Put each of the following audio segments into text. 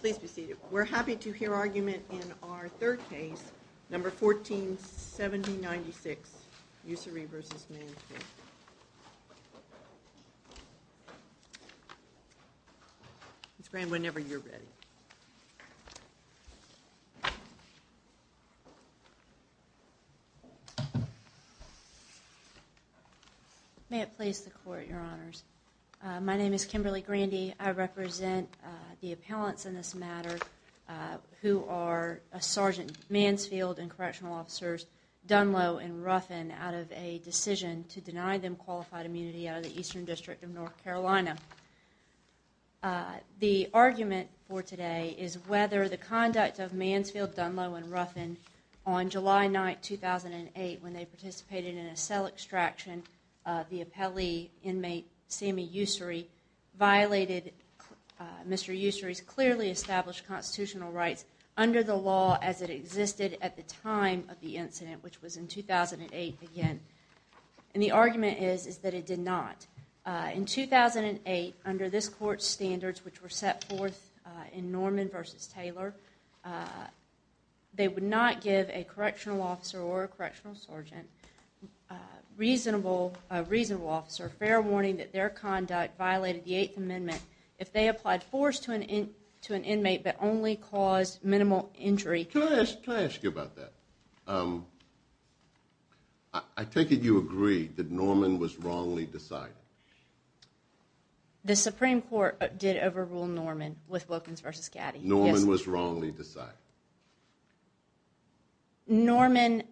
Please be seated. We're happy to hear argument in our third case, number 147096, Ussery v. Mansfield. Ms. Grand, whenever you're ready. May it please the Court, Your Honors. My name is Kimberly Grandy. I represent the appellants in this matter who are Sergeant Mansfield and Correctional Officers Dunlow and Ruffin out of a decision to deny them qualified immunity out of the Eastern District of North Carolina. The argument for today is whether the conduct of Mansfield, Dunlow and Ruffin on July 9, 2008 when they participated in a cell extraction of the appellee inmate Sammy Ussery violated Mr. Ussery's clearly established constitutional rights under the law as it existed at the time of the incident, which was in 2008 again. And the argument is that it did not. In 2008, under this Court's standards which were set forth in Norman v. Taylor, they would not give a Correctional Officer or a Correctional Sergeant a reasonable officer fair warning that their conduct violated the Eighth Amendment if they applied force to an inmate but only caused minimal injury. Can I ask you about that? I take it you agree that Norman was wrongly decided? The Supreme Court did overrule Norman with Wilkins v. Caddy. Norman was wrongly decided. Norman,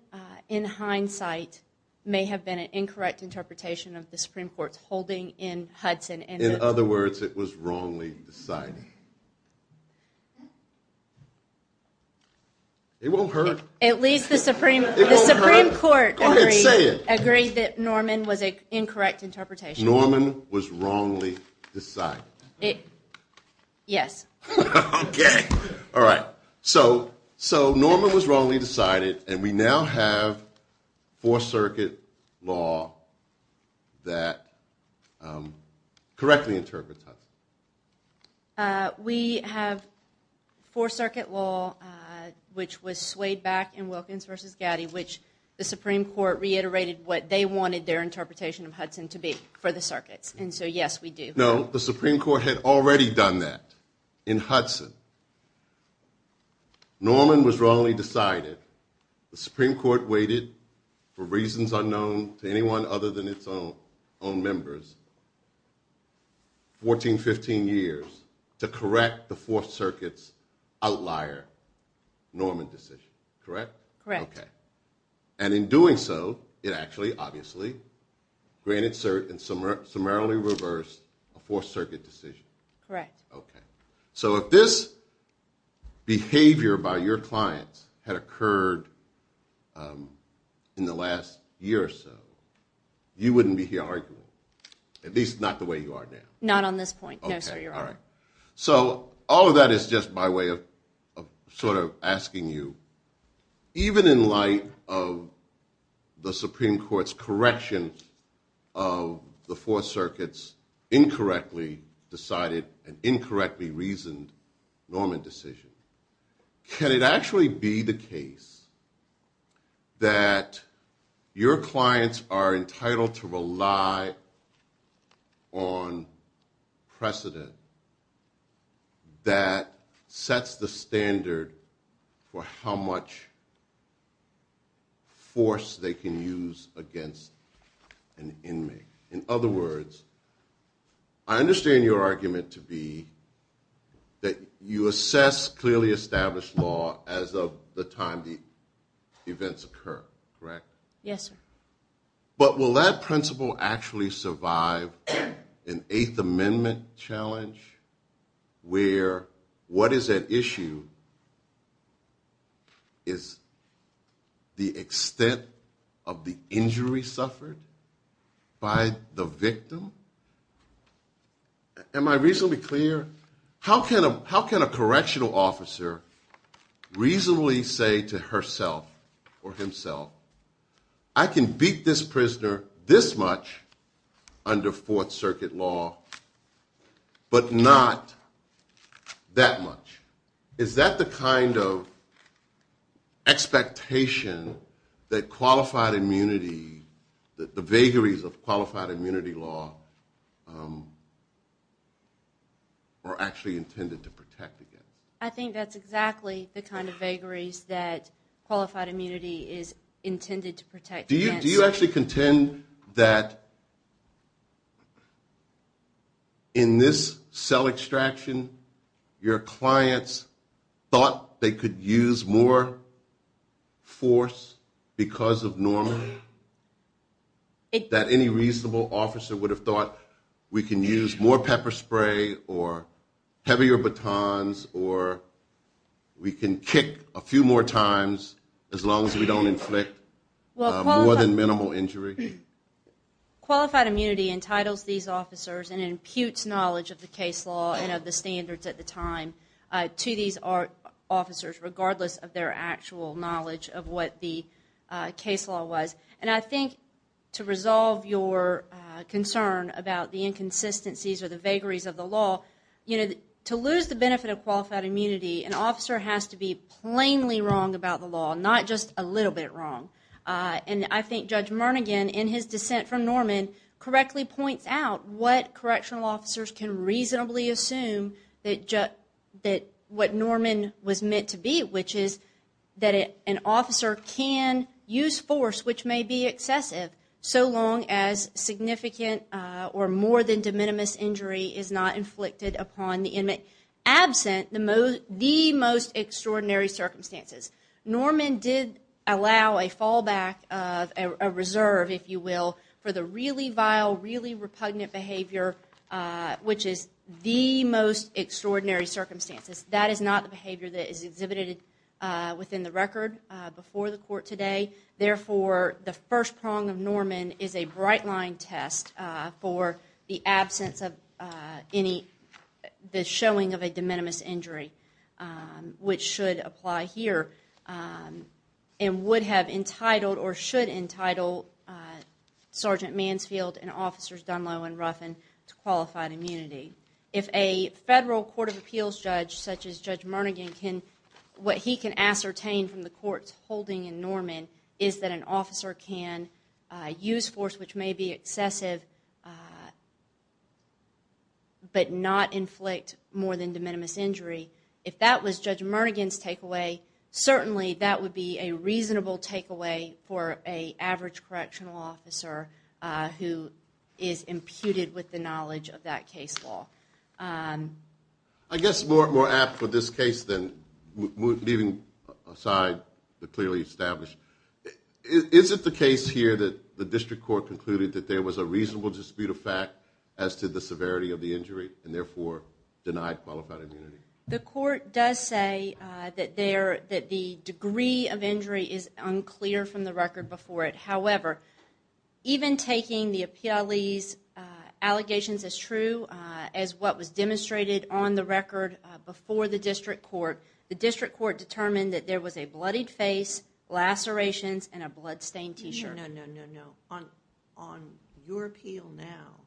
in hindsight, may have been an incorrect interpretation of the Supreme Court's holding in Hudson. In other words, it was wrongly decided. It won't hurt. At least the Supreme Court agreed that Norman was an incorrect interpretation. Norman was wrongly decided. Yes. All right. So Norman was wrongly decided, and we now have Fourth Circuit law that correctly interprets Hudson. We have Fourth Circuit law, which was swayed back in Wilkins v. Caddy, which the Supreme Court reiterated what they wanted their interpretation of Hudson to be for the circuits. And so, yes, we do. No, the Supreme Court had already done that in Hudson. Norman was wrongly decided. The Supreme Court waited for reasons unknown to anyone other than its own members 14, 15 years to correct the Fourth Circuit's outlier Norman decision. Correct? Correct. Okay. And in doing so, it actually, obviously, granted and summarily reversed a Fourth Circuit decision. Correct. Okay. So if this behavior by your clients had occurred in the last year or so, you wouldn't be here arguing, at least not the way you are now. Not on this point, no, sir, Your Honor. Okay. All right. Even in light of the Supreme Court's correction of the Fourth Circuit's incorrectly decided and incorrectly reasoned Norman decision, can it actually be the case that your clients are entitled to rely on precedent that sets the standard for how much force they can use against an inmate? In other words, I understand your argument to be that you assess clearly established law as of the time the events occur. Correct? Yes, sir. But will that principle actually survive an Eighth Amendment challenge where what is at issue is the extent of the injury suffered by the victim? Am I reasonably clear? How can a correctional officer reasonably say to herself or himself, I can beat this prisoner this much under Fourth Circuit law, but not that much? Is that the kind of expectation that qualified immunity, the vagaries of qualified immunity law, are actually intended to protect against? I think that's exactly the kind of vagaries that qualified immunity is intended to protect against. Do you actually contend that in this cell extraction, your clients thought they could use more force because of Norman? That any reasonable officer would have thought we can use more pepper spray or heavier batons or we can kick a few more times as long as we don't inflict more than minimal injury? Qualified immunity entitles these officers and imputes knowledge of the case law and of the standards at the time to these officers, regardless of their actual knowledge of what the case law was. And I think to resolve your concern about the inconsistencies or the vagaries of the law, to lose the benefit of qualified immunity, an officer has to be plainly wrong about the law, not just a little bit wrong. And I think Judge Mernigan, in his dissent from Norman, correctly points out what correctional officers can reasonably assume that what Norman was meant to be, which is that an officer can use force which may be excessive so long as significant or more than de minimis injury is not inflicted upon the inmate, absent the most extraordinary circumstances. Norman did allow a fallback, a reserve, if you will, for the really vile, really repugnant behavior, which is the most extraordinary circumstances. That is not the behavior that is exhibited within the record before the court today. Therefore, the first prong of Norman is a bright line test for the absence of any, the showing of a de minimis injury, which should apply here and would have entitled or should entitle Sergeant Mansfield and Officers Dunlow and Ruffin to qualified immunity. If a federal court of appeals judge such as Judge Mernigan can, what he can ascertain from the court's holding in Norman is that an officer can use force which may be excessive but not inflict more than de minimis injury, if that was Judge Mernigan's takeaway, certainly that would be a reasonable takeaway for a average correctional officer who is imputed with the knowledge of that case law. I guess more apt for this case than leaving aside the clearly established, is it the case here that the district court concluded that there was a reasonable dispute of fact as to the severity of the injury and therefore denied qualified immunity? The court does say that the degree of injury is unclear from the record before it. However, even taking the appealee's allegations as true as what was demonstrated on the record before the district court, the district court determined that there was a bloodied face, lacerations, and a bloodstained t-shirt. No, no, no, no, no. On your appeal now,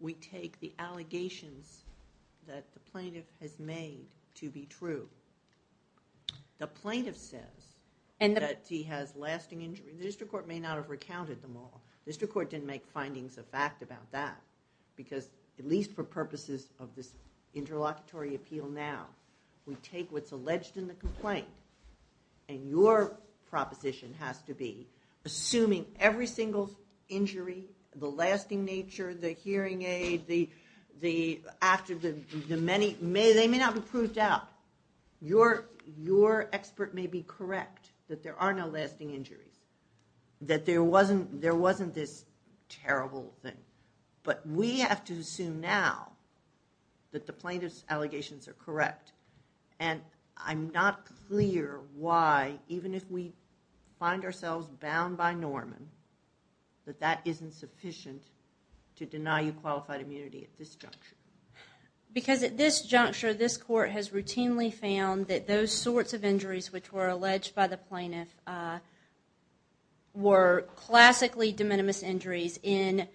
we take the allegations that the plaintiff has made to be true. The plaintiff says that he has lasting injury. The district court may not have recounted them all. The district court didn't make findings of fact about that because, at least for purposes of this interlocutory appeal now, we take what's alleged in the complaint and your proposition has to be, assuming every single injury, the lasting nature, the hearing aid, they may not be proved out, your expert may be correct that there are no lasting injuries. That there wasn't this terrible thing. But we have to assume now that the plaintiff's allegations are correct. And I'm not clear why, even if we find ourselves bound by Norman, that that isn't sufficient to deny you qualified immunity at this juncture. Because at this juncture, this court has routinely found that those sorts of injuries which were alleged by the plaintiff were classically de minimis injuries. In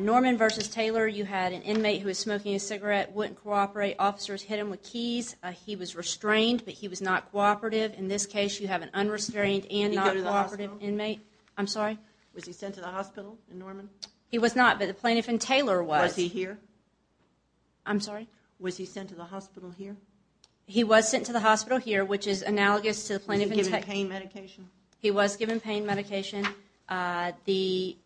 Norman v. Taylor, you had an inmate who was smoking a cigarette, wouldn't cooperate, officers hit him with keys, he was restrained, but he was not cooperative. In this case, you have an unrestrained and not cooperative inmate. Was he sent to the hospital in Norman? He was not, but the plaintiff in Taylor was. Was he here? I'm sorry? Was he sent to the hospital here? He was sent to the hospital here, which is analogous to the plaintiff in Taylor. Was he given pain medication? He was given pain medication.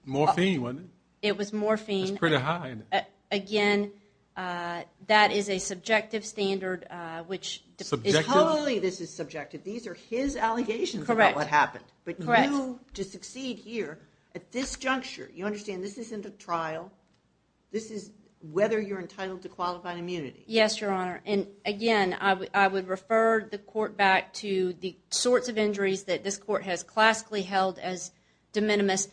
Morphine, wasn't it? It was morphine. That's pretty high, isn't it? Again, that is a subjective standard, which is... Subjective? Totally, this is subjective. These are his allegations about what happened. Correct. But you, to succeed here at this juncture, you understand this isn't a trial. This is whether you're entitled to qualified immunity. Yes, Your Honor, and again, I would refer the court back to the sorts of injuries that this court has classically held as de minimis.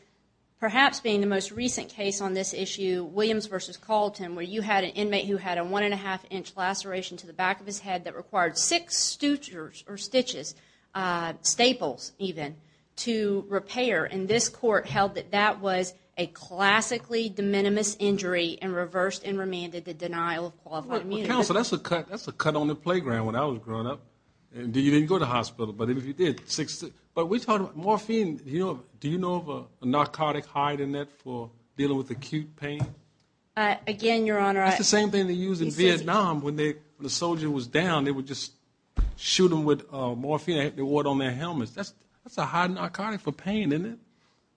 Perhaps being the most recent case on this issue, Williams v. Calton, where you had an inmate who had a one-and-a-half-inch laceration to the back of his head that required six stitches, staples even, to repair. And this court held that that was a classically de minimis injury and reversed and remanded the denial of qualified immunity. Well, counsel, that's a cut on the playground when I was growing up. You didn't go to the hospital, but if you did, six... But we're talking about morphine. Do you know of a narcotic high in that for dealing with acute pain? Again, Your Honor, I... It's the same thing they use in Vietnam when the soldier was down. They would just shoot him with morphine. They wore it on their helmets. That's a high narcotic for pain, isn't it?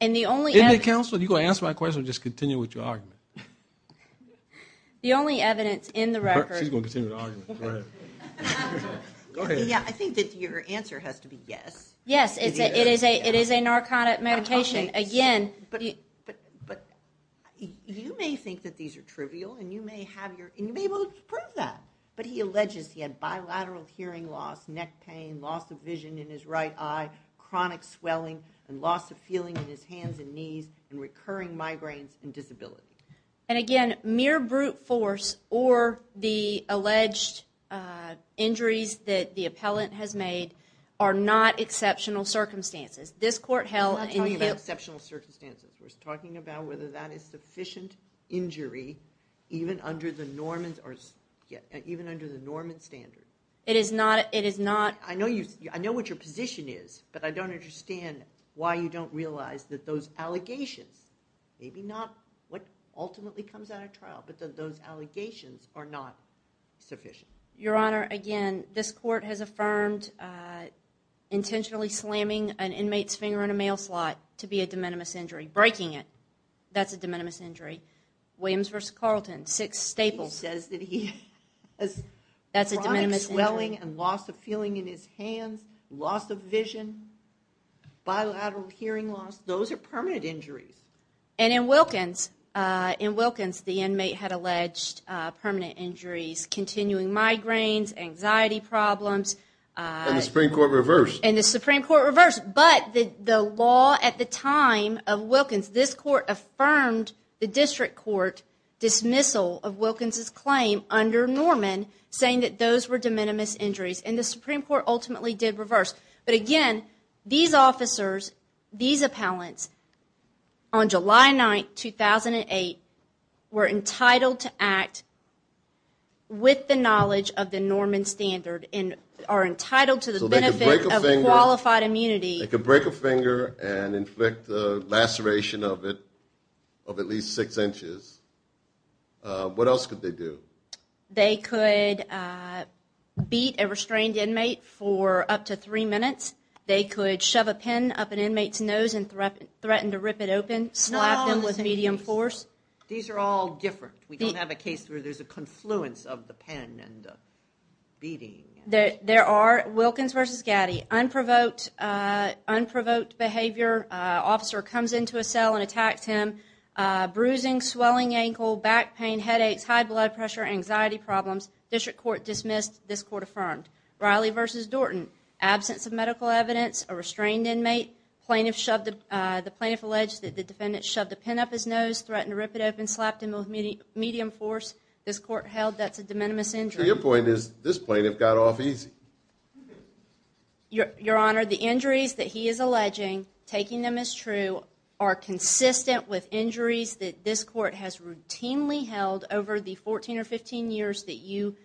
And the only evidence... Isn't it, counsel? Are you going to answer my question or just continue with your argument? The only evidence in the record... She's going to continue the argument. Go ahead. Go ahead. Yeah, I think that your answer has to be yes. Yes, it is a narcotic medication. Again... But you may think that these are trivial, and you may have your... And you may be able to prove that. But he alleges he had bilateral hearing loss, neck pain, loss of vision in his right eye, chronic swelling and loss of feeling in his hands and knees, and recurring migraines and disability. And again, mere brute force or the alleged injuries that the appellant has made are not exceptional circumstances. This court held... We're not talking about exceptional circumstances. We're talking about whether that is sufficient injury even under the Norman standard. It is not... I know what your position is, but I don't understand why you don't realize that those allegations, maybe not what ultimately comes out of trial, but that those allegations are not sufficient. Your Honor, again, this court has affirmed intentionally slamming an inmate's finger in a mail slot to be a de minimis injury. Breaking it, that's a de minimis injury. Williams v. Carlton, six staples. He says that he has... That's a de minimis injury. ...chronic swelling and loss of feeling in his hands, loss of vision, bilateral hearing loss. Those are permanent injuries. And in Wilkins, in Wilkins the inmate had alleged permanent injuries, continuing migraines, anxiety problems. And the Supreme Court reversed. And the Supreme Court reversed. But the law at the time of Wilkins, this court affirmed the district court dismissal of Wilkins' claim under Norman, saying that those were de minimis injuries. And the Supreme Court ultimately did reverse. But again, these officers, these appellants, on July 9, 2008, were entitled to act with the knowledge of the Norman standard and are entitled to the benefit of qualified immunity. So they could break a finger and inflict a laceration of it of at least six inches. What else could they do? They could beat a restrained inmate for up to three minutes. They could shove a pen up an inmate's nose and threaten to rip it open, slap them with medium force. These are all different. We don't have a case where there's a confluence of the pen and beating. There are, Wilkins v. Gaddy, unprovoked behavior. Officer comes into a cell and attacks him. Bruising, swelling ankle, back pain, headaches, high blood pressure, anxiety problems. District court dismissed. This court affirmed. Riley v. Dorton, absence of medical evidence, a restrained inmate. The plaintiff alleged that the defendant shoved a pen up his nose, threatened to rip it open, slapped him with medium force. This court held that's a de minimis injury. Your point is this plaintiff got off easy. Your Honor, the injuries that he is alleging, taking them as true, are consistent with injuries that this court has routinely held over the 14 or 15 years that you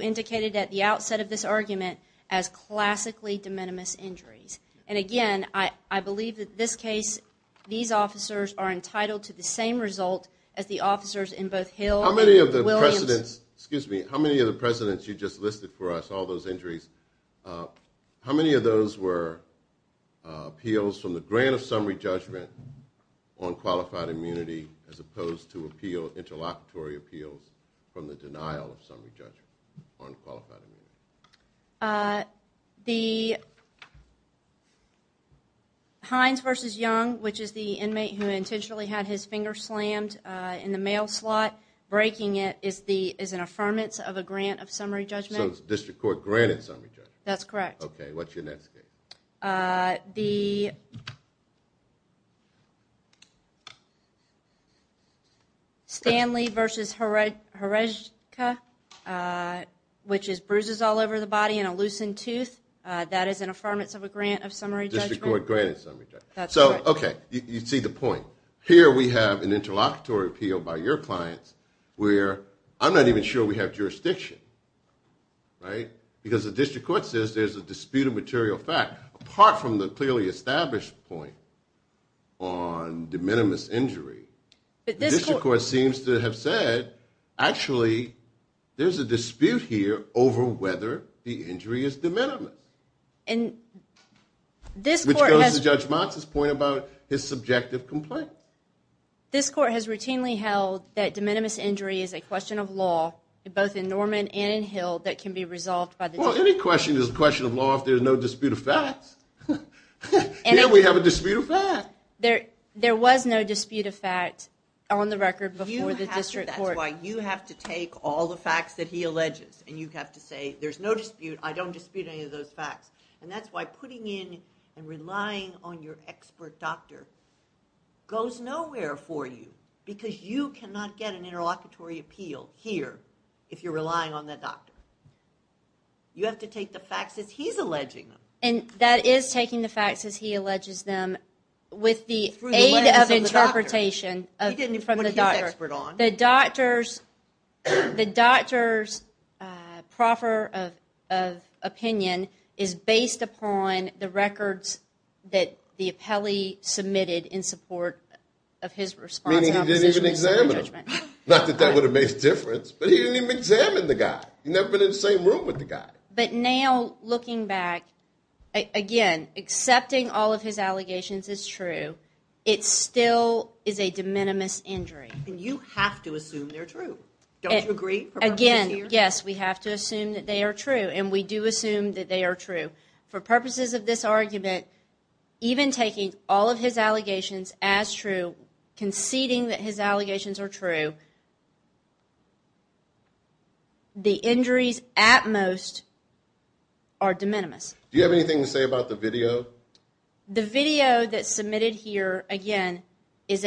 indicated at the outset of this argument as classically de minimis injuries. And again, I believe that this case, these officers are entitled to the same result as the officers in both Hill and Williams. How many of the precedents, excuse me, how many of the precedents you just listed for us, all those injuries, how many of those were appeals from the grant of summary judgment on qualified immunity as opposed to appeal, interlocutory appeals from the denial of summary judgment on qualified immunity? The Hines v. Young, which is the inmate who intentionally had his finger slammed in the mail slot, breaking it, is an affirmance of a grant of summary judgment. So the district court granted summary judgment. That's correct. Okay, what's your next case? The Stanley v. Horejka, which is bruises all over the body and a loosened tooth, that is an affirmance of a grant of summary judgment. District court granted summary judgment. That's correct. So, okay, you see the point. So here we have an interlocutory appeal by your clients where I'm not even sure we have jurisdiction, right? Because the district court says there's a dispute of material fact, apart from the clearly established point on de minimis injury, the district court seems to have said, actually, there's a dispute here over whether the injury is de minimis. Which goes to Judge Motz's point about his subjective complaint. This court has routinely held that de minimis injury is a question of law, both in Norman and in Hill, that can be resolved by the district court. Well, any question is a question of law if there's no dispute of facts. Here we have a dispute of facts. There was no dispute of facts on the record before the district court. That's why you have to take all the facts that he alleges, and you have to say, there's no dispute, I don't dispute any of those facts. And that's why putting in and relying on your expert doctor goes nowhere for you, because you cannot get an interlocutory appeal here if you're relying on that doctor. You have to take the facts as he's alleging them. And that is taking the facts as he alleges them with the aid of interpretation from the doctor. The doctor's proper opinion is based upon the records that the appellee submitted in support of his response. Meaning he didn't even examine him. Not that that would have made a difference, but he didn't even examine the guy. He'd never been in the same room with the guy. But now, looking back, again, accepting all of his allegations is true. It still is a de minimis injury. And you have to assume they're true. Don't you agree? Again, yes, we have to assume that they are true. And we do assume that they are true. For purposes of this argument, even taking all of his allegations as true, conceding that his allegations are true, the injuries at most are de minimis. Do you have anything to say about the video? The video that's submitted here, again, is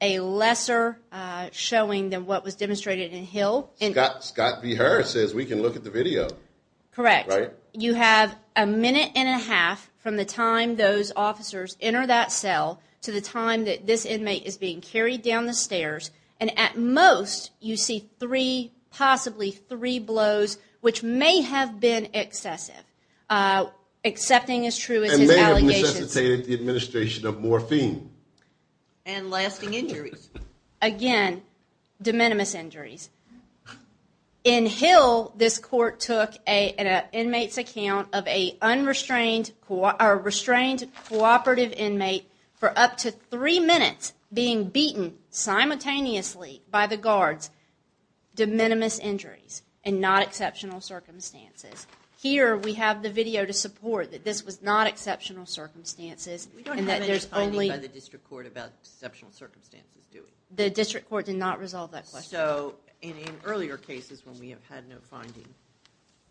a lesser showing than what was demonstrated in Hill. Scott V. Harris says we can look at the video. Correct. You have a minute and a half from the time those officers enter that cell to the time that this inmate is being carried down the stairs. And at most, you see three, possibly three blows, which may have been excessive. Accepting as true as his allegations. And may have necessitated the administration of morphine. And lasting injuries. Again, de minimis injuries. In Hill, this court took an inmate's account of a restrained cooperative inmate for up to three minutes being beaten simultaneously by the guards. De minimis injuries. And not exceptional circumstances. Here, we have the video to support that this was not exceptional circumstances. We don't have any finding by the district court about exceptional circumstances, do we? The district court did not resolve that question. So, in earlier cases when we have had no finding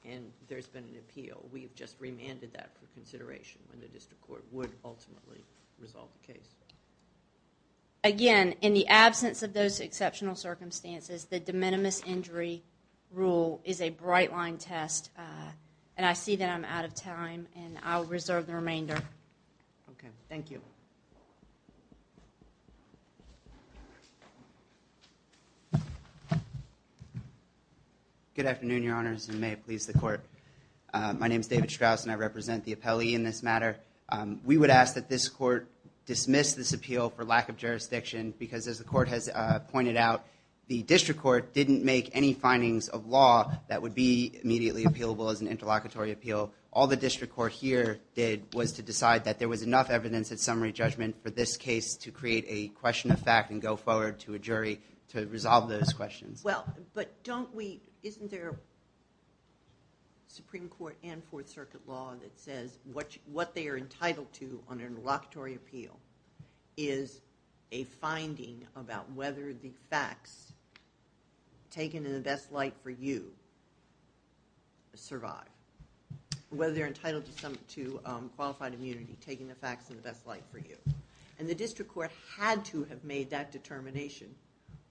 and there's been an appeal, we've just remanded that for consideration when the district court would ultimately resolve the case. Again, in the absence of those exceptional circumstances, the de minimis injury rule is a bright line test. And I see that I'm out of time. And I'll reserve the remainder. Okay. Thank you. Good afternoon, Your Honors. And may it please the court. My name is David Strauss and I represent the appellee in this matter. We would ask that this court dismiss this appeal for lack of jurisdiction because as the court has pointed out, the district court didn't make any findings of law that would be immediately appealable as an interlocutory appeal. All the district court here did was to decide that there was enough evidence at summary judgment for this case to create a question of fact and go forward to a jury to resolve those questions. Well, but don't we, isn't there a Supreme Court and Fourth Circuit law that says what they are entitled to on an interlocutory appeal is a finding about whether the facts taken in the best light for you survive. Whether they're entitled to qualified immunity, taking the facts in the best light for you. And the district court had to have made that determination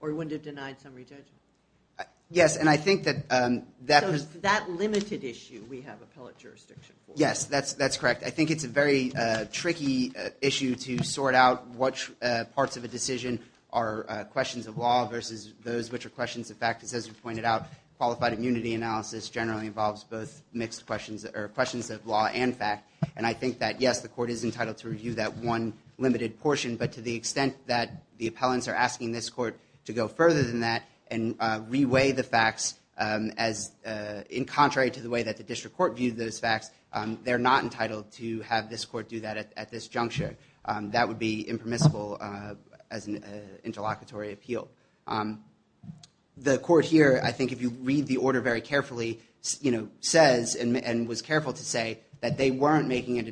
or it wouldn't have denied summary judgment. Yes, and I think that... Yes, that's correct. I think it's a very tricky issue to sort out what parts of a decision are questions of law versus those which are questions of fact. Because as you pointed out, qualified immunity analysis generally involves both mixed questions or questions of law and fact. And I think that, yes, the court is entitled to review that one limited portion. But to the extent that the appellants are asking this court to go further than that and reweigh the facts as in contrary to the way that the district court viewed those facts, they're not entitled to have this court do that at this juncture. That would be impermissible as an interlocutory appeal. The court here, I think if you read the order very carefully, says and was careful to say that they weren't making a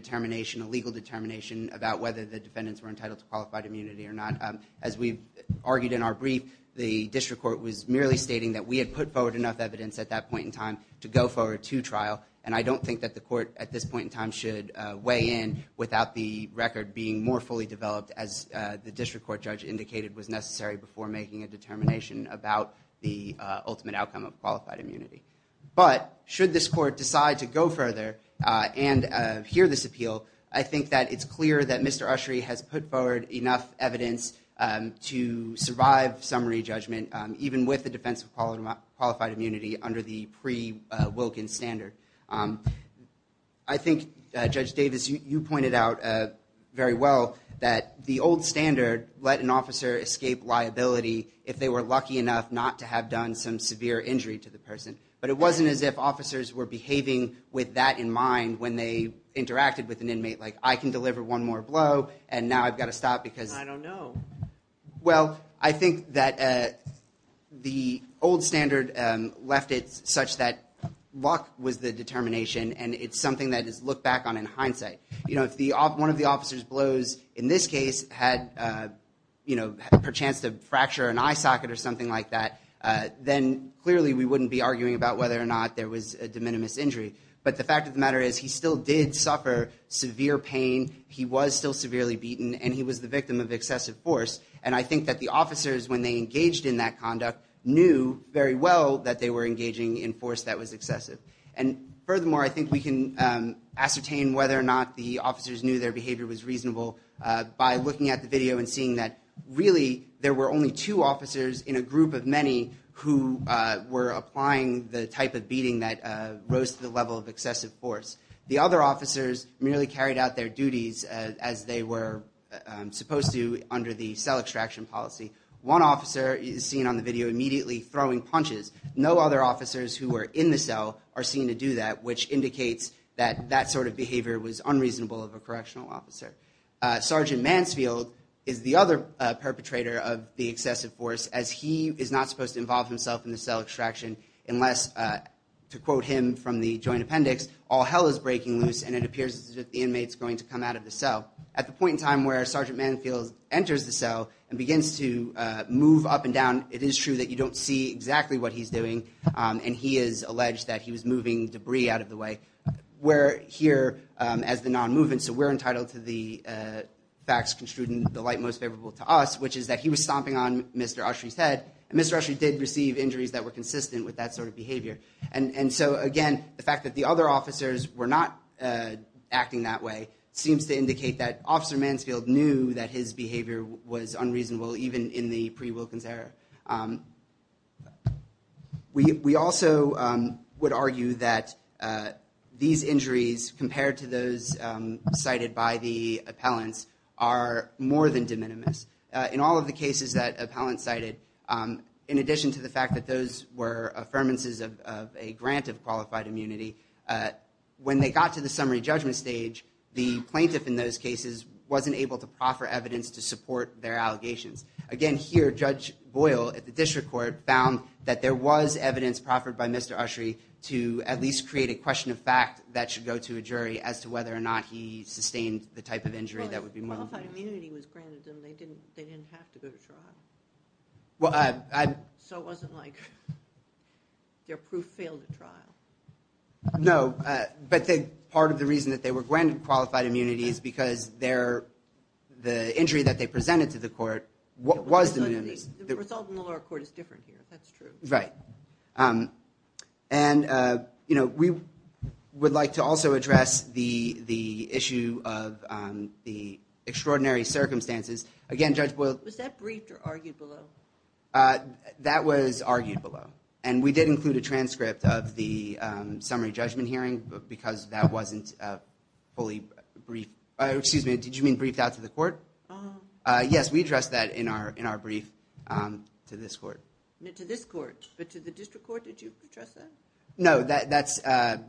legal determination about whether the defendants were entitled to qualified immunity or not. As we've argued in our brief, the district court was merely stating that we had put forward enough evidence at that point in time to go forward to trial. And I don't think that the court at this point in time should weigh in without the record being more fully developed as the district court judge indicated was necessary before making a determination about the ultimate outcome of qualified immunity. But should this court decide to go further and hear this appeal, I think that it's clear that Mr. Ushry has put forward enough evidence to survive summary judgment, even with the defense of qualified immunity under the pre-Wilkins standard. I think, Judge Davis, you pointed out very well that the old standard let an officer escape liability if they were lucky enough not to have done some severe injury to the person. But it wasn't as if officers were behaving with that in mind when they interacted with an inmate like, I can deliver one more blow and now I've got to stop because... I don't know. Well, I think that the old standard left it such that luck was the determination and it's something that is looked back on in hindsight. You know, if one of the officer's blows in this case had a chance to fracture an eye socket or something like that, then clearly we wouldn't be arguing about whether or not there was a de minimis injury. But the fact of the matter is he still did suffer severe pain. He was still severely beaten and he was the victim of excessive force. And I think that the officers, when they engaged in that conduct, knew very well that they were engaging in force that was excessive. And furthermore, I think we can ascertain whether or not the officers knew their behavior was reasonable by looking at the video and seeing that, really, there were only two officers in a group of many who were applying the type of beating that rose to the level of excessive force. The other officers merely carried out their duties as they were supposed to under the cell extraction policy. One officer is seen on the video immediately throwing punches. No other officers who were in the cell are seen to do that, which indicates that that sort of behavior was unreasonable of a correctional officer. Sergeant Mansfield is the other perpetrator of the excessive force as he is not supposed to involve himself in the cell extraction unless, to quote him from the joint appendix, all hell is breaking loose and it appears that the inmate's going to come out of the cell. At the point in time where Sergeant Mansfield enters the cell and begins to move up and down, it is true that you don't see exactly what he's doing, and he is alleged that he was moving debris out of the way. We're here as the non-movement, so we're entitled to the facts construed in the light most favorable to us, which is that he was stomping on Mr. Ushry's head, and so, again, the fact that the other officers were not acting that way seems to indicate that Officer Mansfield knew that his behavior was unreasonable, even in the pre-Wilkins era. We also would argue that these injuries, compared to those cited by the appellants, are more than de minimis. In all of the cases that appellants cited, in addition to the fact that those were affirmances of a grant of qualified immunity, when they got to the summary judgment stage, the plaintiff in those cases wasn't able to proffer evidence to support their allegations. Again, here, Judge Boyle at the District Court found that there was evidence proffered by Mr. Ushry to at least create a question of fact that should go to a jury If qualified immunity was granted, then they didn't have to go to trial? So it wasn't like their proof failed at trial? No, but part of the reason that they were granted qualified immunity is because the injury that they presented to the court was de minimis. The result in the lower court is different here, that's true. Right. And we would like to also address the issue of the extraordinary circumstances. Was that briefed or argued below? That was argued below. And we did include a transcript of the summary judgment hearing because that wasn't fully briefed. Excuse me, did you mean briefed out to the court? Yes, we addressed that in our brief to this court. But to the District Court, did you address that? No,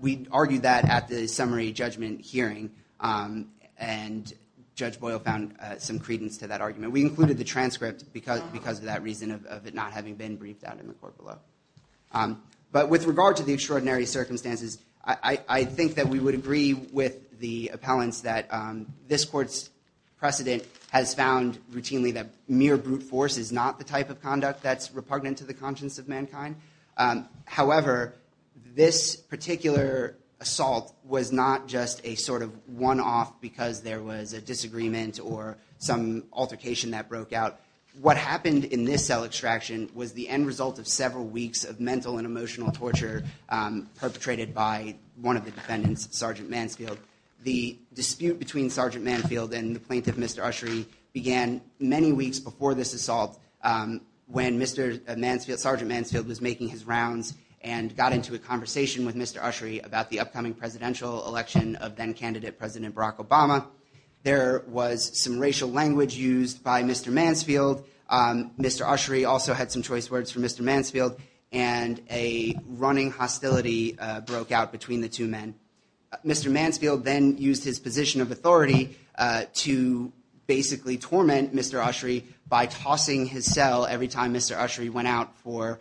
we argued that at the summary judgment hearing and Judge Boyle found some credence to that argument. We included the transcript because of that reason of it not having been briefed out in the court below. But with regard to the extraordinary circumstances, I think that we would agree with the appellants that this court's precedent has found routinely that mere brute force is not the type of conduct that's repugnant to the conscience of mankind. However, this particular assault was not just a sort of one-off because there was a disagreement or some altercation that broke out. What happened in this cell extraction was the end result of several weeks of mental and emotional torture perpetrated by one of the defendants, Sergeant Mansfield. The dispute between Sergeant Mansfield and the plaintiff, Mr. Ushry, began many weeks before this assault when Sergeant Mansfield was making his rounds and got into a conversation with Mr. Ushry about the upcoming presidential election of then-candidate President Barack Obama. There was some racial language used by Mr. Mansfield. Mr. Ushry also had some choice words for Mr. Mansfield, and a running hostility broke out between the two men. Mr. Mansfield then used his position of authority to basically torment Mr. Ushry by tossing his cell every time Mr. Ushry went out for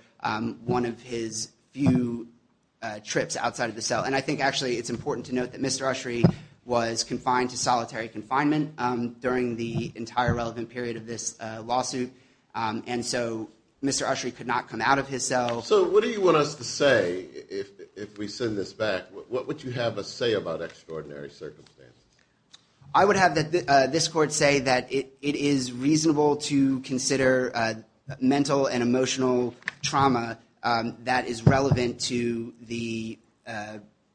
one of his few trips outside of the cell. And I think actually it's important to note that Mr. Ushry was confined to solitary confinement during the entire relevant period of this lawsuit, and so Mr. Ushry could not come out of his cell. So what do you want us to say if we send this back? What would you have us say about extraordinary circumstances? I would have this court say that it is reasonable to consider mental and emotional trauma that is relevant to the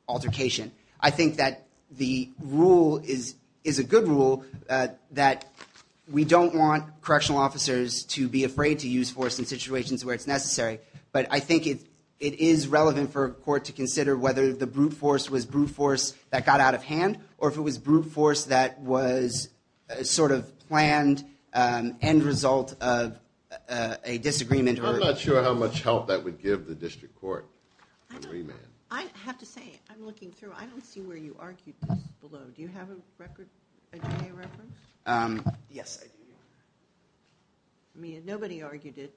altercation. I think that the rule is a good rule that we don't want correctional officers to be afraid to use force in situations where it's necessary, but I think it is relevant for a court to consider whether the brute force was brute force that got out of hand, or if it was brute force that was a sort of planned end result of a disagreement. I'm not sure how much help that would give the district court on remand. I have to say, I'm looking through, I don't see where you argued this below. Do you have a record? Yes. Nobody argued it.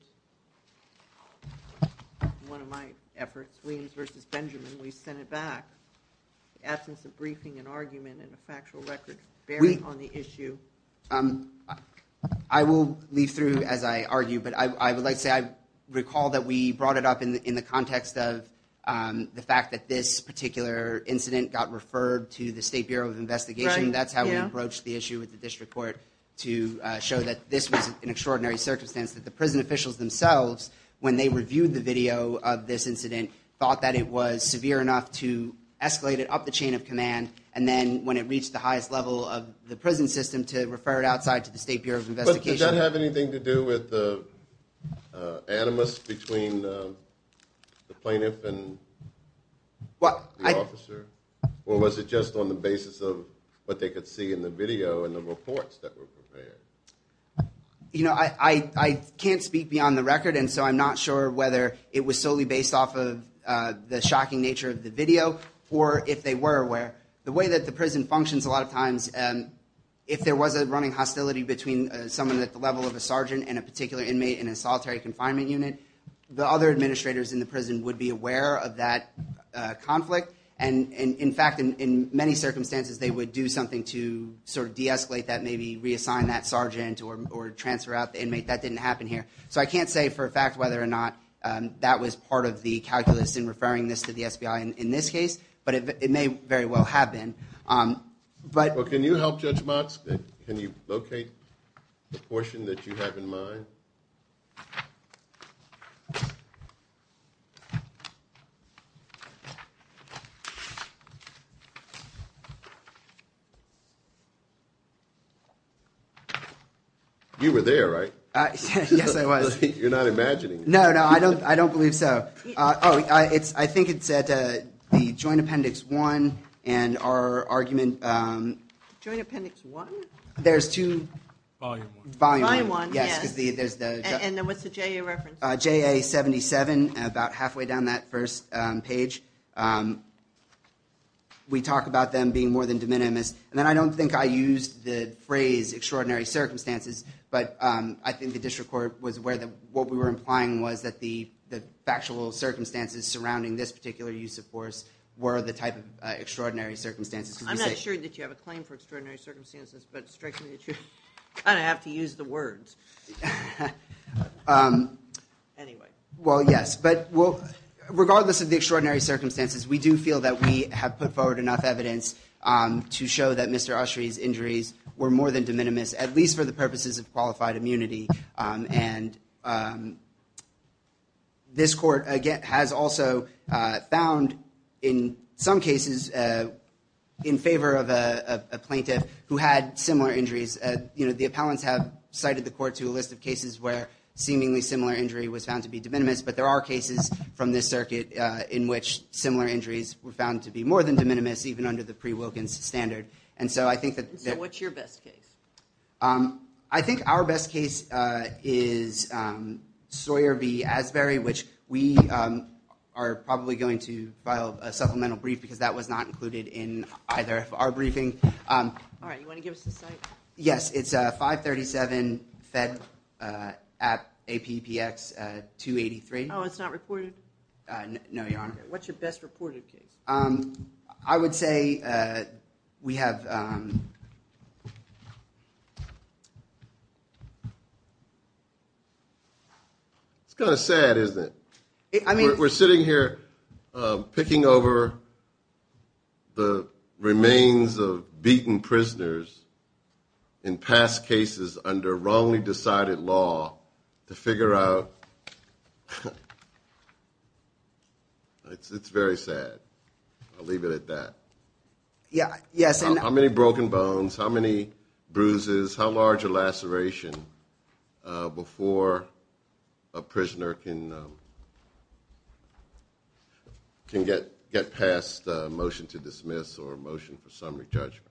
In one of my efforts, Williams v. Benjamin, we sent it back. The absence of briefing and argument and a factual record bearing on the issue. I will leave through as I argue, but I would like to say I recall that we brought it up in the context of the fact that this particular incident got referred to the State Bureau of Investigation. That's how we broached the issue with the district court to show that this was an extraordinary circumstance, that the prison officials themselves, when they reviewed the video of this incident, thought that it was severe enough to escalate it up the chain of command, and then when it reached the highest level of the prison system, to refer it outside to the State Bureau of Investigation. Does that have anything to do with the animus between the plaintiff and the officer? Or was it just on the basis of what they could see in the video and the reports that were prepared? You know, I can't speak beyond the record, and so I'm not sure whether it was solely based off of the shocking nature of the video, or if they were aware. The way that the prison functions a lot of times, if there was a running hostility between someone at the level of a sergeant and a particular inmate in a solitary confinement unit, the other administrators in the prison would be aware of that conflict and, in fact, in many circumstances they would do something to sort of de-escalate that, maybe reassign that sergeant or transfer out the inmate. That didn't happen here. So I can't say for a fact whether or not that was part of the calculus in referring this to the SBI in this case, but it may very well have been. Well, can you help Judge Motz? Can you locate the portion that you have in mind? You were there, right? Yes, I was. You're not imagining it. No, no, I don't believe so. I think it's at the Joint Appendix 1 and our argument... Joint Appendix 1? There's two... Volume 1. Volume 1, yes. And what's the JA reference? JA 77, about halfway down that first page. We talk about them being more than de minimis, and I don't think I used the phrase extraordinary circumstances, but I think the district court was aware that what we were implying was that the factual circumstances surrounding this particular use of force were the type of extraordinary circumstances. I'm not sure that you have a claim for extraordinary circumstances, but it strikes me that you kind of have to use the words. Anyway. Well, yes. Regardless of the extraordinary circumstances, we do feel that we have put forward enough evidence to show that Mr. Ushry's injuries were more than de minimis, at least for the purposes of qualified immunity. And this court has also found, in some cases, in favor of a plaintiff who had similar injuries. You know, the appellants have cited the court to a list of cases where seemingly similar injury was found to be de minimis, but there are cases from this circuit in which similar injuries were found to be more than de minimis, even under the pre-Wilkins standard. And so I think that... So what's your best case? I think our best case is Sawyer v. Asbury, which we are probably going to file a supplemental brief because that was not included in either of our briefings. All right. You want to give us the site? Yes. It's 537 Fed App APPX 283. Oh, it's not reported? No, Your Honor. What's your best reported case? I would say we have... It's kind of sad, isn't it? I mean... We're sitting here picking over the remains of beaten prisoners in past cases under wrongly decided law to figure out... It's very sad. I'll leave it at that. Yes. How many broken bones? How many bruises? How large a laceration before a prisoner can get past a motion to dismiss or a motion for summary judgment?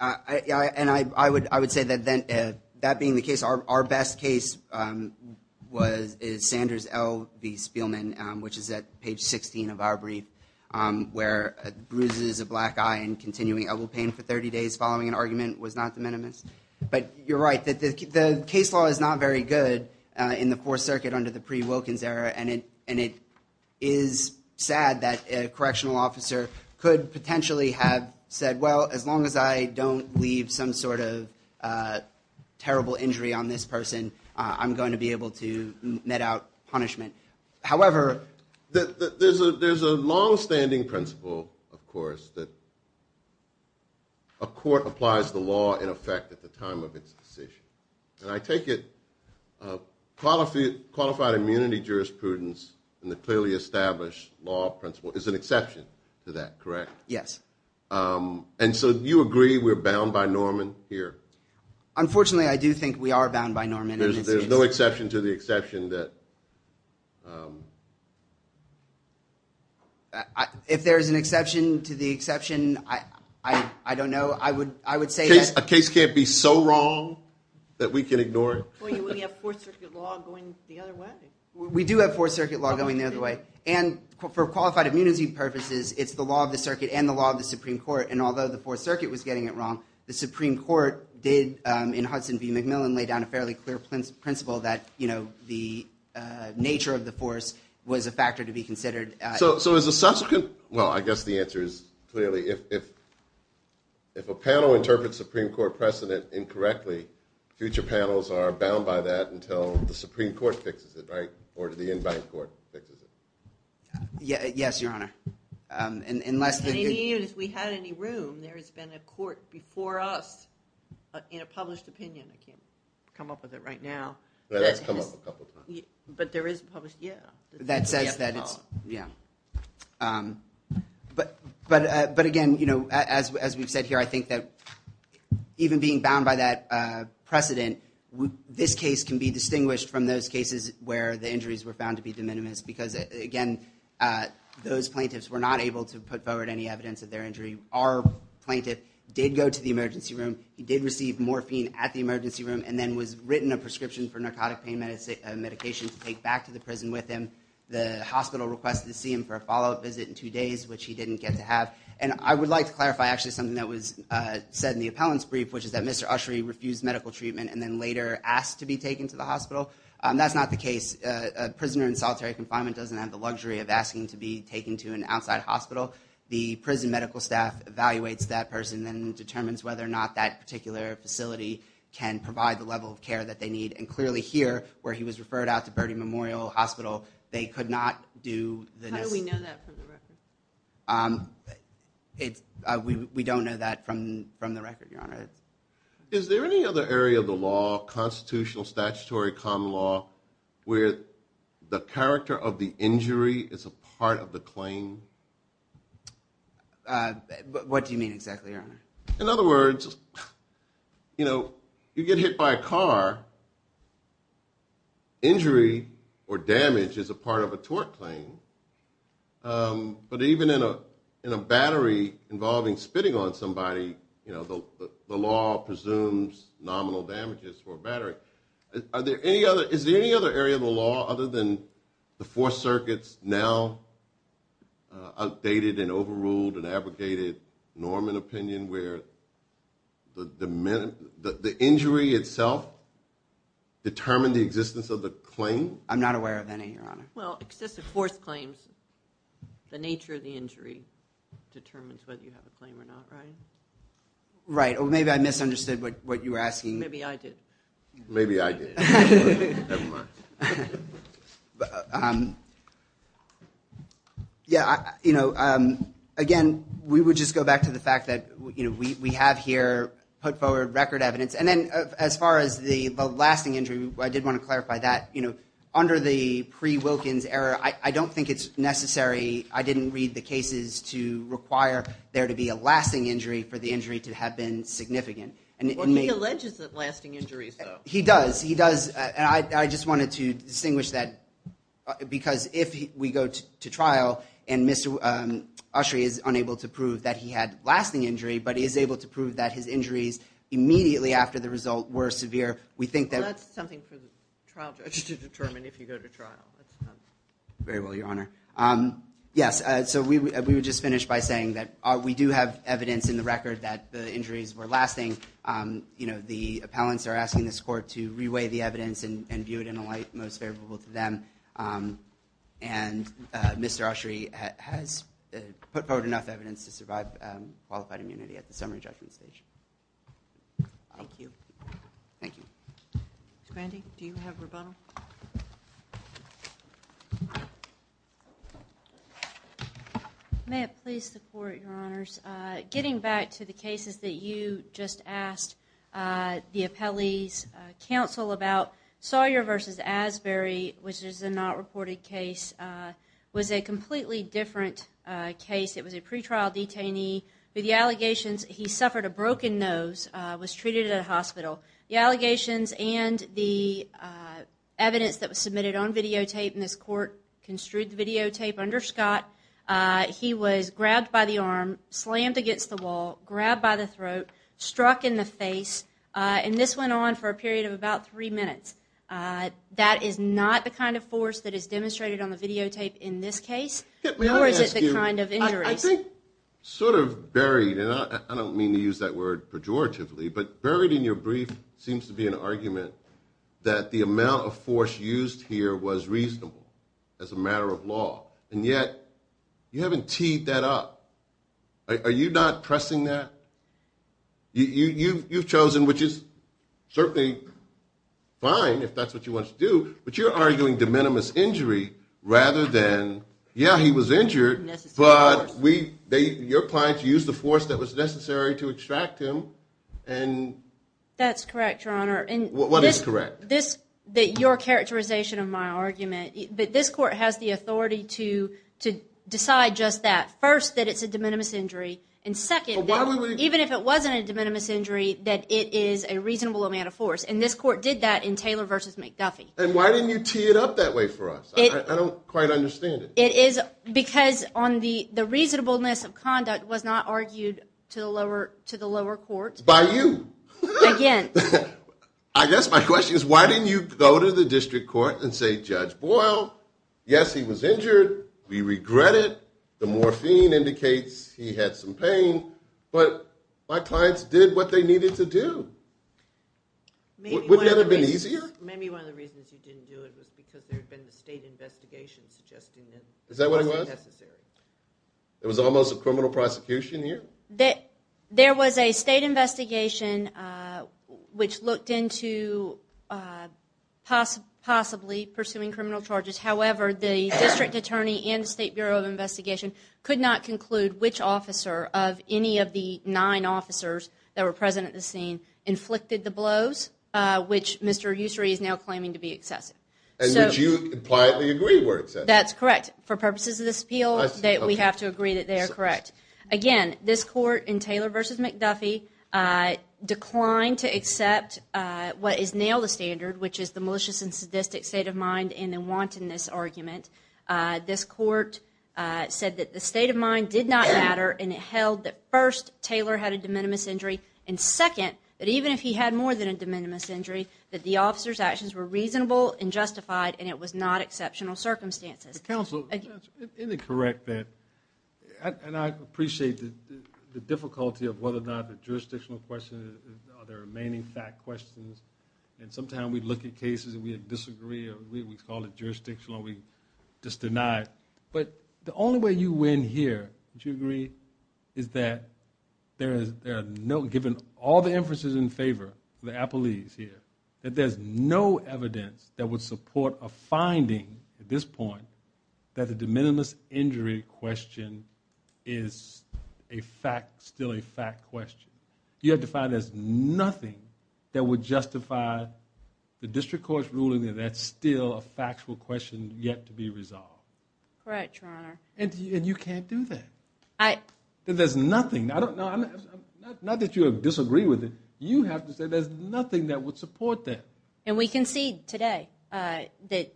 And I would say that that being the case, our best case is Sanders L v Spielman, which is at page 16 of our brief, where bruises, a black eye, and continuing elbow pain for 30 days following an argument was not the minimus. But you're right. The case law is not very good in the Fourth Circuit under the pre-Wilkins era, and it is sad that a correctional officer could potentially have said, well, as long as I don't leave some sort of terrible injury on this person, I'm going to be able to met out punishment. However... There's a longstanding principle, of course, that a court applies the law in effect at the time of its decision. And I take it qualified immunity jurisprudence and the clearly established law principle is an exception to that, correct? Yes. And so you agree we're bound by Norman here? Unfortunately, I do think we are bound by Norman in this case. There's no exception to the exception that... If there is an exception to the exception, I don't know. I would say that... A case can't be so wrong that we can ignore it? We have Fourth Circuit law going the other way. We do have Fourth Circuit law going the other way. And for qualified immunity purposes, it's the law of the circuit and the law of the Supreme Court. And although the Fourth Circuit was getting it wrong, the Supreme Court did, in Hudson v. McMillan, lay down a fairly clear principle that, you know, the nature of the force was a factor to be considered. So is the subsequent... Well, I guess the answer is clearly, if a panel interprets Supreme Court precedent incorrectly, future panels are bound by that until the Supreme Court fixes it, right? Or the in-bank court fixes it. Yes, Your Honor. Unless... If we had any room, there has been a court before us in a published opinion. I can't come up with it right now. It has come up a couple of times. But there is a published... Yeah. That says that it's... Yeah. But again, you know, as we've said here, I think that even being bound by that precedent, this case can be distinguished from those cases where the injuries were found to be de minimis because, again, those plaintiffs were not able to put forward any evidence of their injury. Our plaintiff did go to the emergency room. He did receive morphine at the emergency room and then was written a prescription for narcotic pain medication to take back to the prison with him. The hospital requested to see him for a follow-up visit in two days, which he didn't get to have. And I would like to clarify actually something that was said in the appellant's brief, which is that Mr. Ushry refused medical treatment and then later asked to be taken to the hospital. That's not the case. A prisoner in solitary confinement doesn't have the luxury of asking to be taken to an outside hospital. The prison medical staff evaluates that person and determines whether or not that particular facility can provide the level of care that they need. And clearly here, where he was referred out to Birdie Memorial Hospital, they could not do the necessary... How do we know that from the record? We don't know that from the record, Your Honor. Is there any other area of the law, constitutional, statutory, common law, where the character of the injury is a part of the claim? What do you mean exactly, Your Honor? In other words, you know, you get hit by a car. Injury or damage is a part of a tort claim. But even in a battery involving spitting on somebody, you know, the law presumes nominal damages for a battery. Is there any other area of the law, other than the four circuits, now outdated and overruled and abrogated, Norman opinion, where the injury itself determined the existence of the claim? I'm not aware of any, Your Honor. Well, excessive force claims, the nature of the injury determines whether you have a claim or not, right? Right. Well, maybe I misunderstood what you were asking. Maybe I did. Maybe I did. Never mind. Yeah, you know, again, we would just go back to the fact that, you know, we have here put forward record evidence. And then as far as the lasting injury, I did want to clarify that. You know, under the pre-Wilkins era, I don't think it's necessary. I didn't read the cases to require there to be a lasting injury for the injury to have been significant. Well, he alleges that lasting injuries, though. He does. He does. And I just wanted to distinguish that because if we go to trial and Mr. Ushry is unable to prove that he had lasting injury, but is able to prove that his injuries immediately after the result were severe, we think that... Well, that's something for the trial judge to determine if you go to trial. Very well, Your Honor. Yes, so we would just finish by saying that we do have evidence in the record that the injuries were lasting. You know, the appellants are asking this court to re-weigh the evidence and view it in a light most favorable to them. And Mr. Ushry has put forward enough evidence to survive qualified immunity at the summary judgment stage. Thank you. Thank you. Ms. Grandy, do you have rebuttal? May I please support, Your Honors? Getting back to the cases that you just asked the appellee's counsel about, Sawyer v. Asbury, which is a not reported case, was a completely different case. It was a pretrial detainee. The allegations, he suffered a broken nose, was treated at a hospital. The allegations and the evidence that was submitted on videotape in this court construed the videotape under Scott. He was grabbed by the arm, slammed against the wall, grabbed by the throat, struck in the face, and this went on for a period of about three minutes. That is not the kind of force that is demonstrated on the videotape in this case, nor is it the kind of injuries. I think sort of buried, and I don't mean to use that word pejoratively, but buried in your brief seems to be an argument that the amount of force used here was reasonable as a matter of law, and yet you haven't teed that up. Are you not pressing that? You've chosen, which is certainly fine if that's what you want to do, but you're arguing de minimis injury rather than, yeah, he was injured, but your client used the force that was necessary to extract him. That's correct, Your Honor. What is correct? Your characterization of my argument, that this court has the authority to decide just that. First, that it's a de minimis injury, and second, even if it wasn't a de minimis injury, that it is a reasonable amount of force, and this court did that in Taylor v. McDuffie. Why didn't you tee it up that way for us? I don't quite understand it. It is because the reasonableness of conduct was not argued to the lower courts. By you. Again. I guess my question is, why didn't you go to the district court and say, Judge Boyle, yes, he was injured. We regret it. The morphine indicates he had some pain, but my clients did what they needed to do. Wouldn't that have been easier? Maybe one of the reasons you didn't do it was because there had been the state investigation suggesting that it wasn't necessary. It was almost a criminal prosecution here? There was a state investigation which looked into possibly pursuing criminal charges. However, the district attorney and the State Bureau of Investigation could not conclude which officer of any of the nine officers that were present at the scene inflicted the blows, which Mr. Ussery is now claiming to be excessive. And which you impliedly agree were excessive. That's correct. For purposes of this appeal, we have to agree that they are correct. Again, this court in Taylor v. McDuffie declined to accept what is now the standard, which is the malicious and sadistic state of mind and the wantonness argument. This court said that the state of mind did not matter and it held that first, Taylor had a de minimis injury, and second, that even if he had more than a de minimis injury, that the officer's actions were reasonable and justified and it was not exceptional circumstances. Counsel, isn't it correct that... I appreciate the difficulty of whether or not the jurisdictional question are the remaining fact questions. And sometimes we look at cases and we disagree or we call it jurisdictional and we just deny it. But the only way you win here, don't you agree, is that there are no... Given all the inferences in favor of the appellees here, that there's no evidence that would support a finding at this point that the de minimis injury question is a fact, still a fact question. You have to find there's nothing that would justify the district court's ruling that that's still a factual question yet to be resolved. Correct, Your Honor. And you can't do that. There's nothing... Not that you disagree with it, you have to say there's nothing that would support that. And we can see today that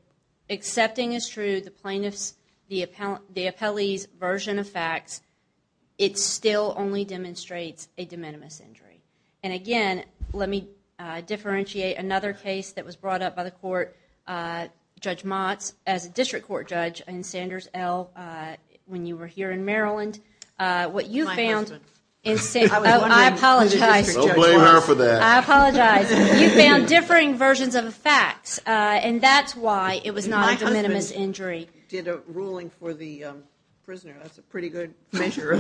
accepting as true the plaintiff's, the appellee's version of facts, it still only demonstrates a de minimis injury. And again, let me differentiate another case that was brought up by the court, Judge Motz, as a district court judge in Sanders L. when you were here in Maryland. My husband. I apologize. Don't blame her for that. I apologize. You found differing versions of facts, and that's why it was not a de minimis injury. My husband did a ruling for the prisoner. That's a pretty good measure.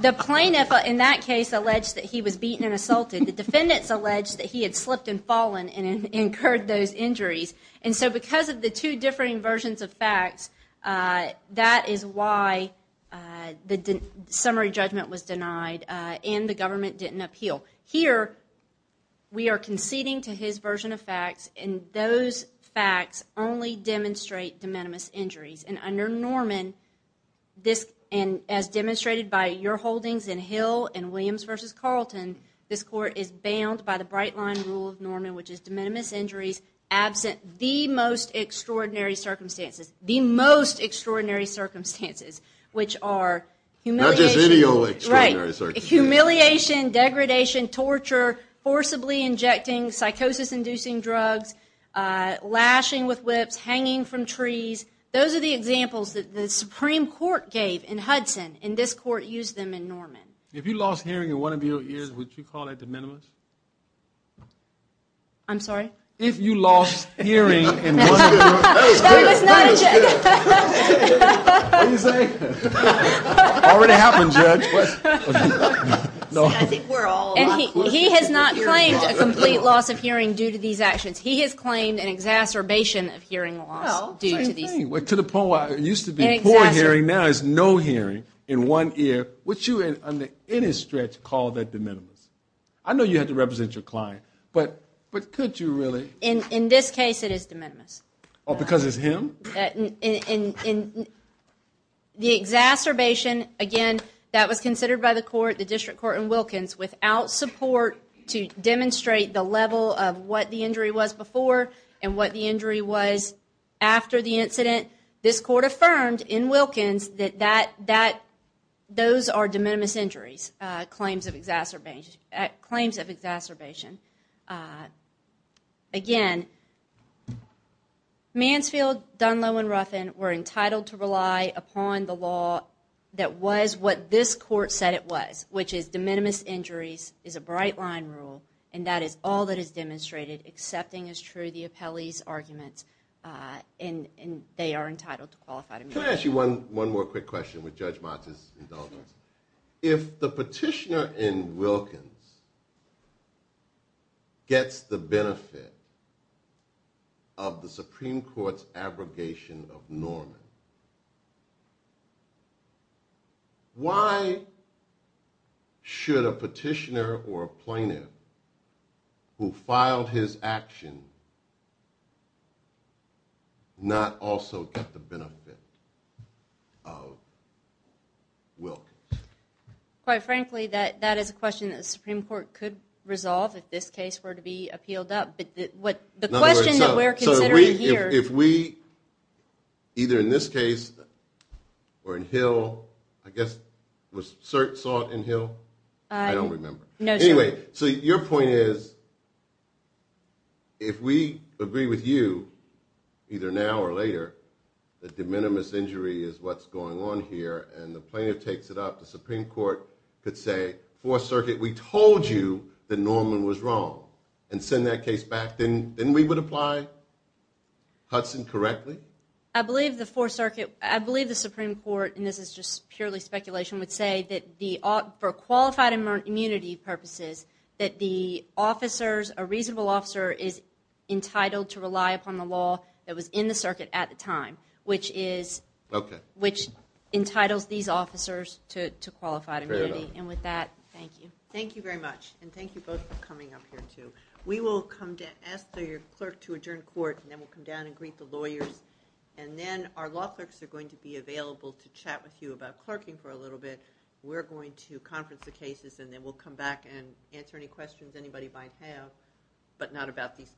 The plaintiff in that case alleged that he was beaten and assaulted. The defendants alleged that he had slipped and fallen and incurred those injuries. And so because of the two differing versions of facts, that is why the summary judgment was denied and the government didn't appeal. Here, we are conceding to his version of facts, and those facts only demonstrate de minimis injuries. And under Norman, as demonstrated by your holdings in Hill and Williams v. Carlton, this court is bound by the bright-line rule of Norman, which is de minimis injuries absent the most extraordinary circumstances, the most extraordinary circumstances, which are humiliation... Not just any old extraordinary circumstances. Humiliation, degradation, torture, forcibly injecting psychosis-inducing drugs, lashing with whips, hanging from trees. Those are the examples that the Supreme Court gave in Hudson, and this court used them in Norman. If you lost hearing in one of your ears, would you call that de minimis? I'm sorry? If you lost hearing in one of your... That was not a judge. What did you say? Already happened, Judge. See, I think we're all... And he has not claimed a complete loss of hearing due to these actions. He has claimed an exacerbation of hearing loss due to these... Well, same thing. To the point where it used to be poor hearing, now it's no hearing in one ear. Would you in any stretch call that de minimis? I know you had to represent your client, but could you really? In this case, it is de minimis. Oh, because it's him? The exacerbation, again, that was considered by the court, the district court in Wilkins, without support to demonstrate the level of what the injury was before and what the injury was after the incident, this court affirmed in Wilkins that those are de minimis injuries, claims of exacerbation. Again, Mansfield, Dunlow, and Ruffin were entitled to rely upon the law that was what this court said it was, which is de minimis injuries is a bright-line rule, and that is all that is demonstrated, accepting as true the appellee's arguments, and they are entitled to qualified immunity. Can I ask you one more quick question with Judge Motz's indulgence? If the petitioner in Wilkins gets the benefit of the Supreme Court's abrogation of Norman, why should a petitioner or a plaintiff who filed his action not also get the benefit of Wilkins? Quite frankly, that is a question that the Supreme Court could resolve if this case were to be appealed up, but the question that we're considering here. So if we, either in this case or in Hill, I guess was Sert saw it in Hill? I don't remember. No, sir. Anyway, so your point is if we agree with you, either now or later, that de minimis injury is what's going on here, and the plaintiff takes it up, the Supreme Court could say, Fourth Circuit, we told you that Norman was wrong, and send that case back. Then we would apply Hudson correctly? I believe the Fourth Circuit, I believe the Supreme Court, and this is just purely speculation, would say that for qualified immunity purposes, that the officers, a reasonable officer is entitled to rely upon the law that was in the circuit at the time, which entitles these officers to qualified immunity. And with that, thank you. Thank you very much, and thank you both for coming up here, too. We will come down, ask your clerk to adjourn court, and then we'll come down and greet the lawyers, and then our law clerks are going to be available to chat with you about it. We're going to conference the cases, and then we'll come back and answer any questions anybody might have, but not about these cases.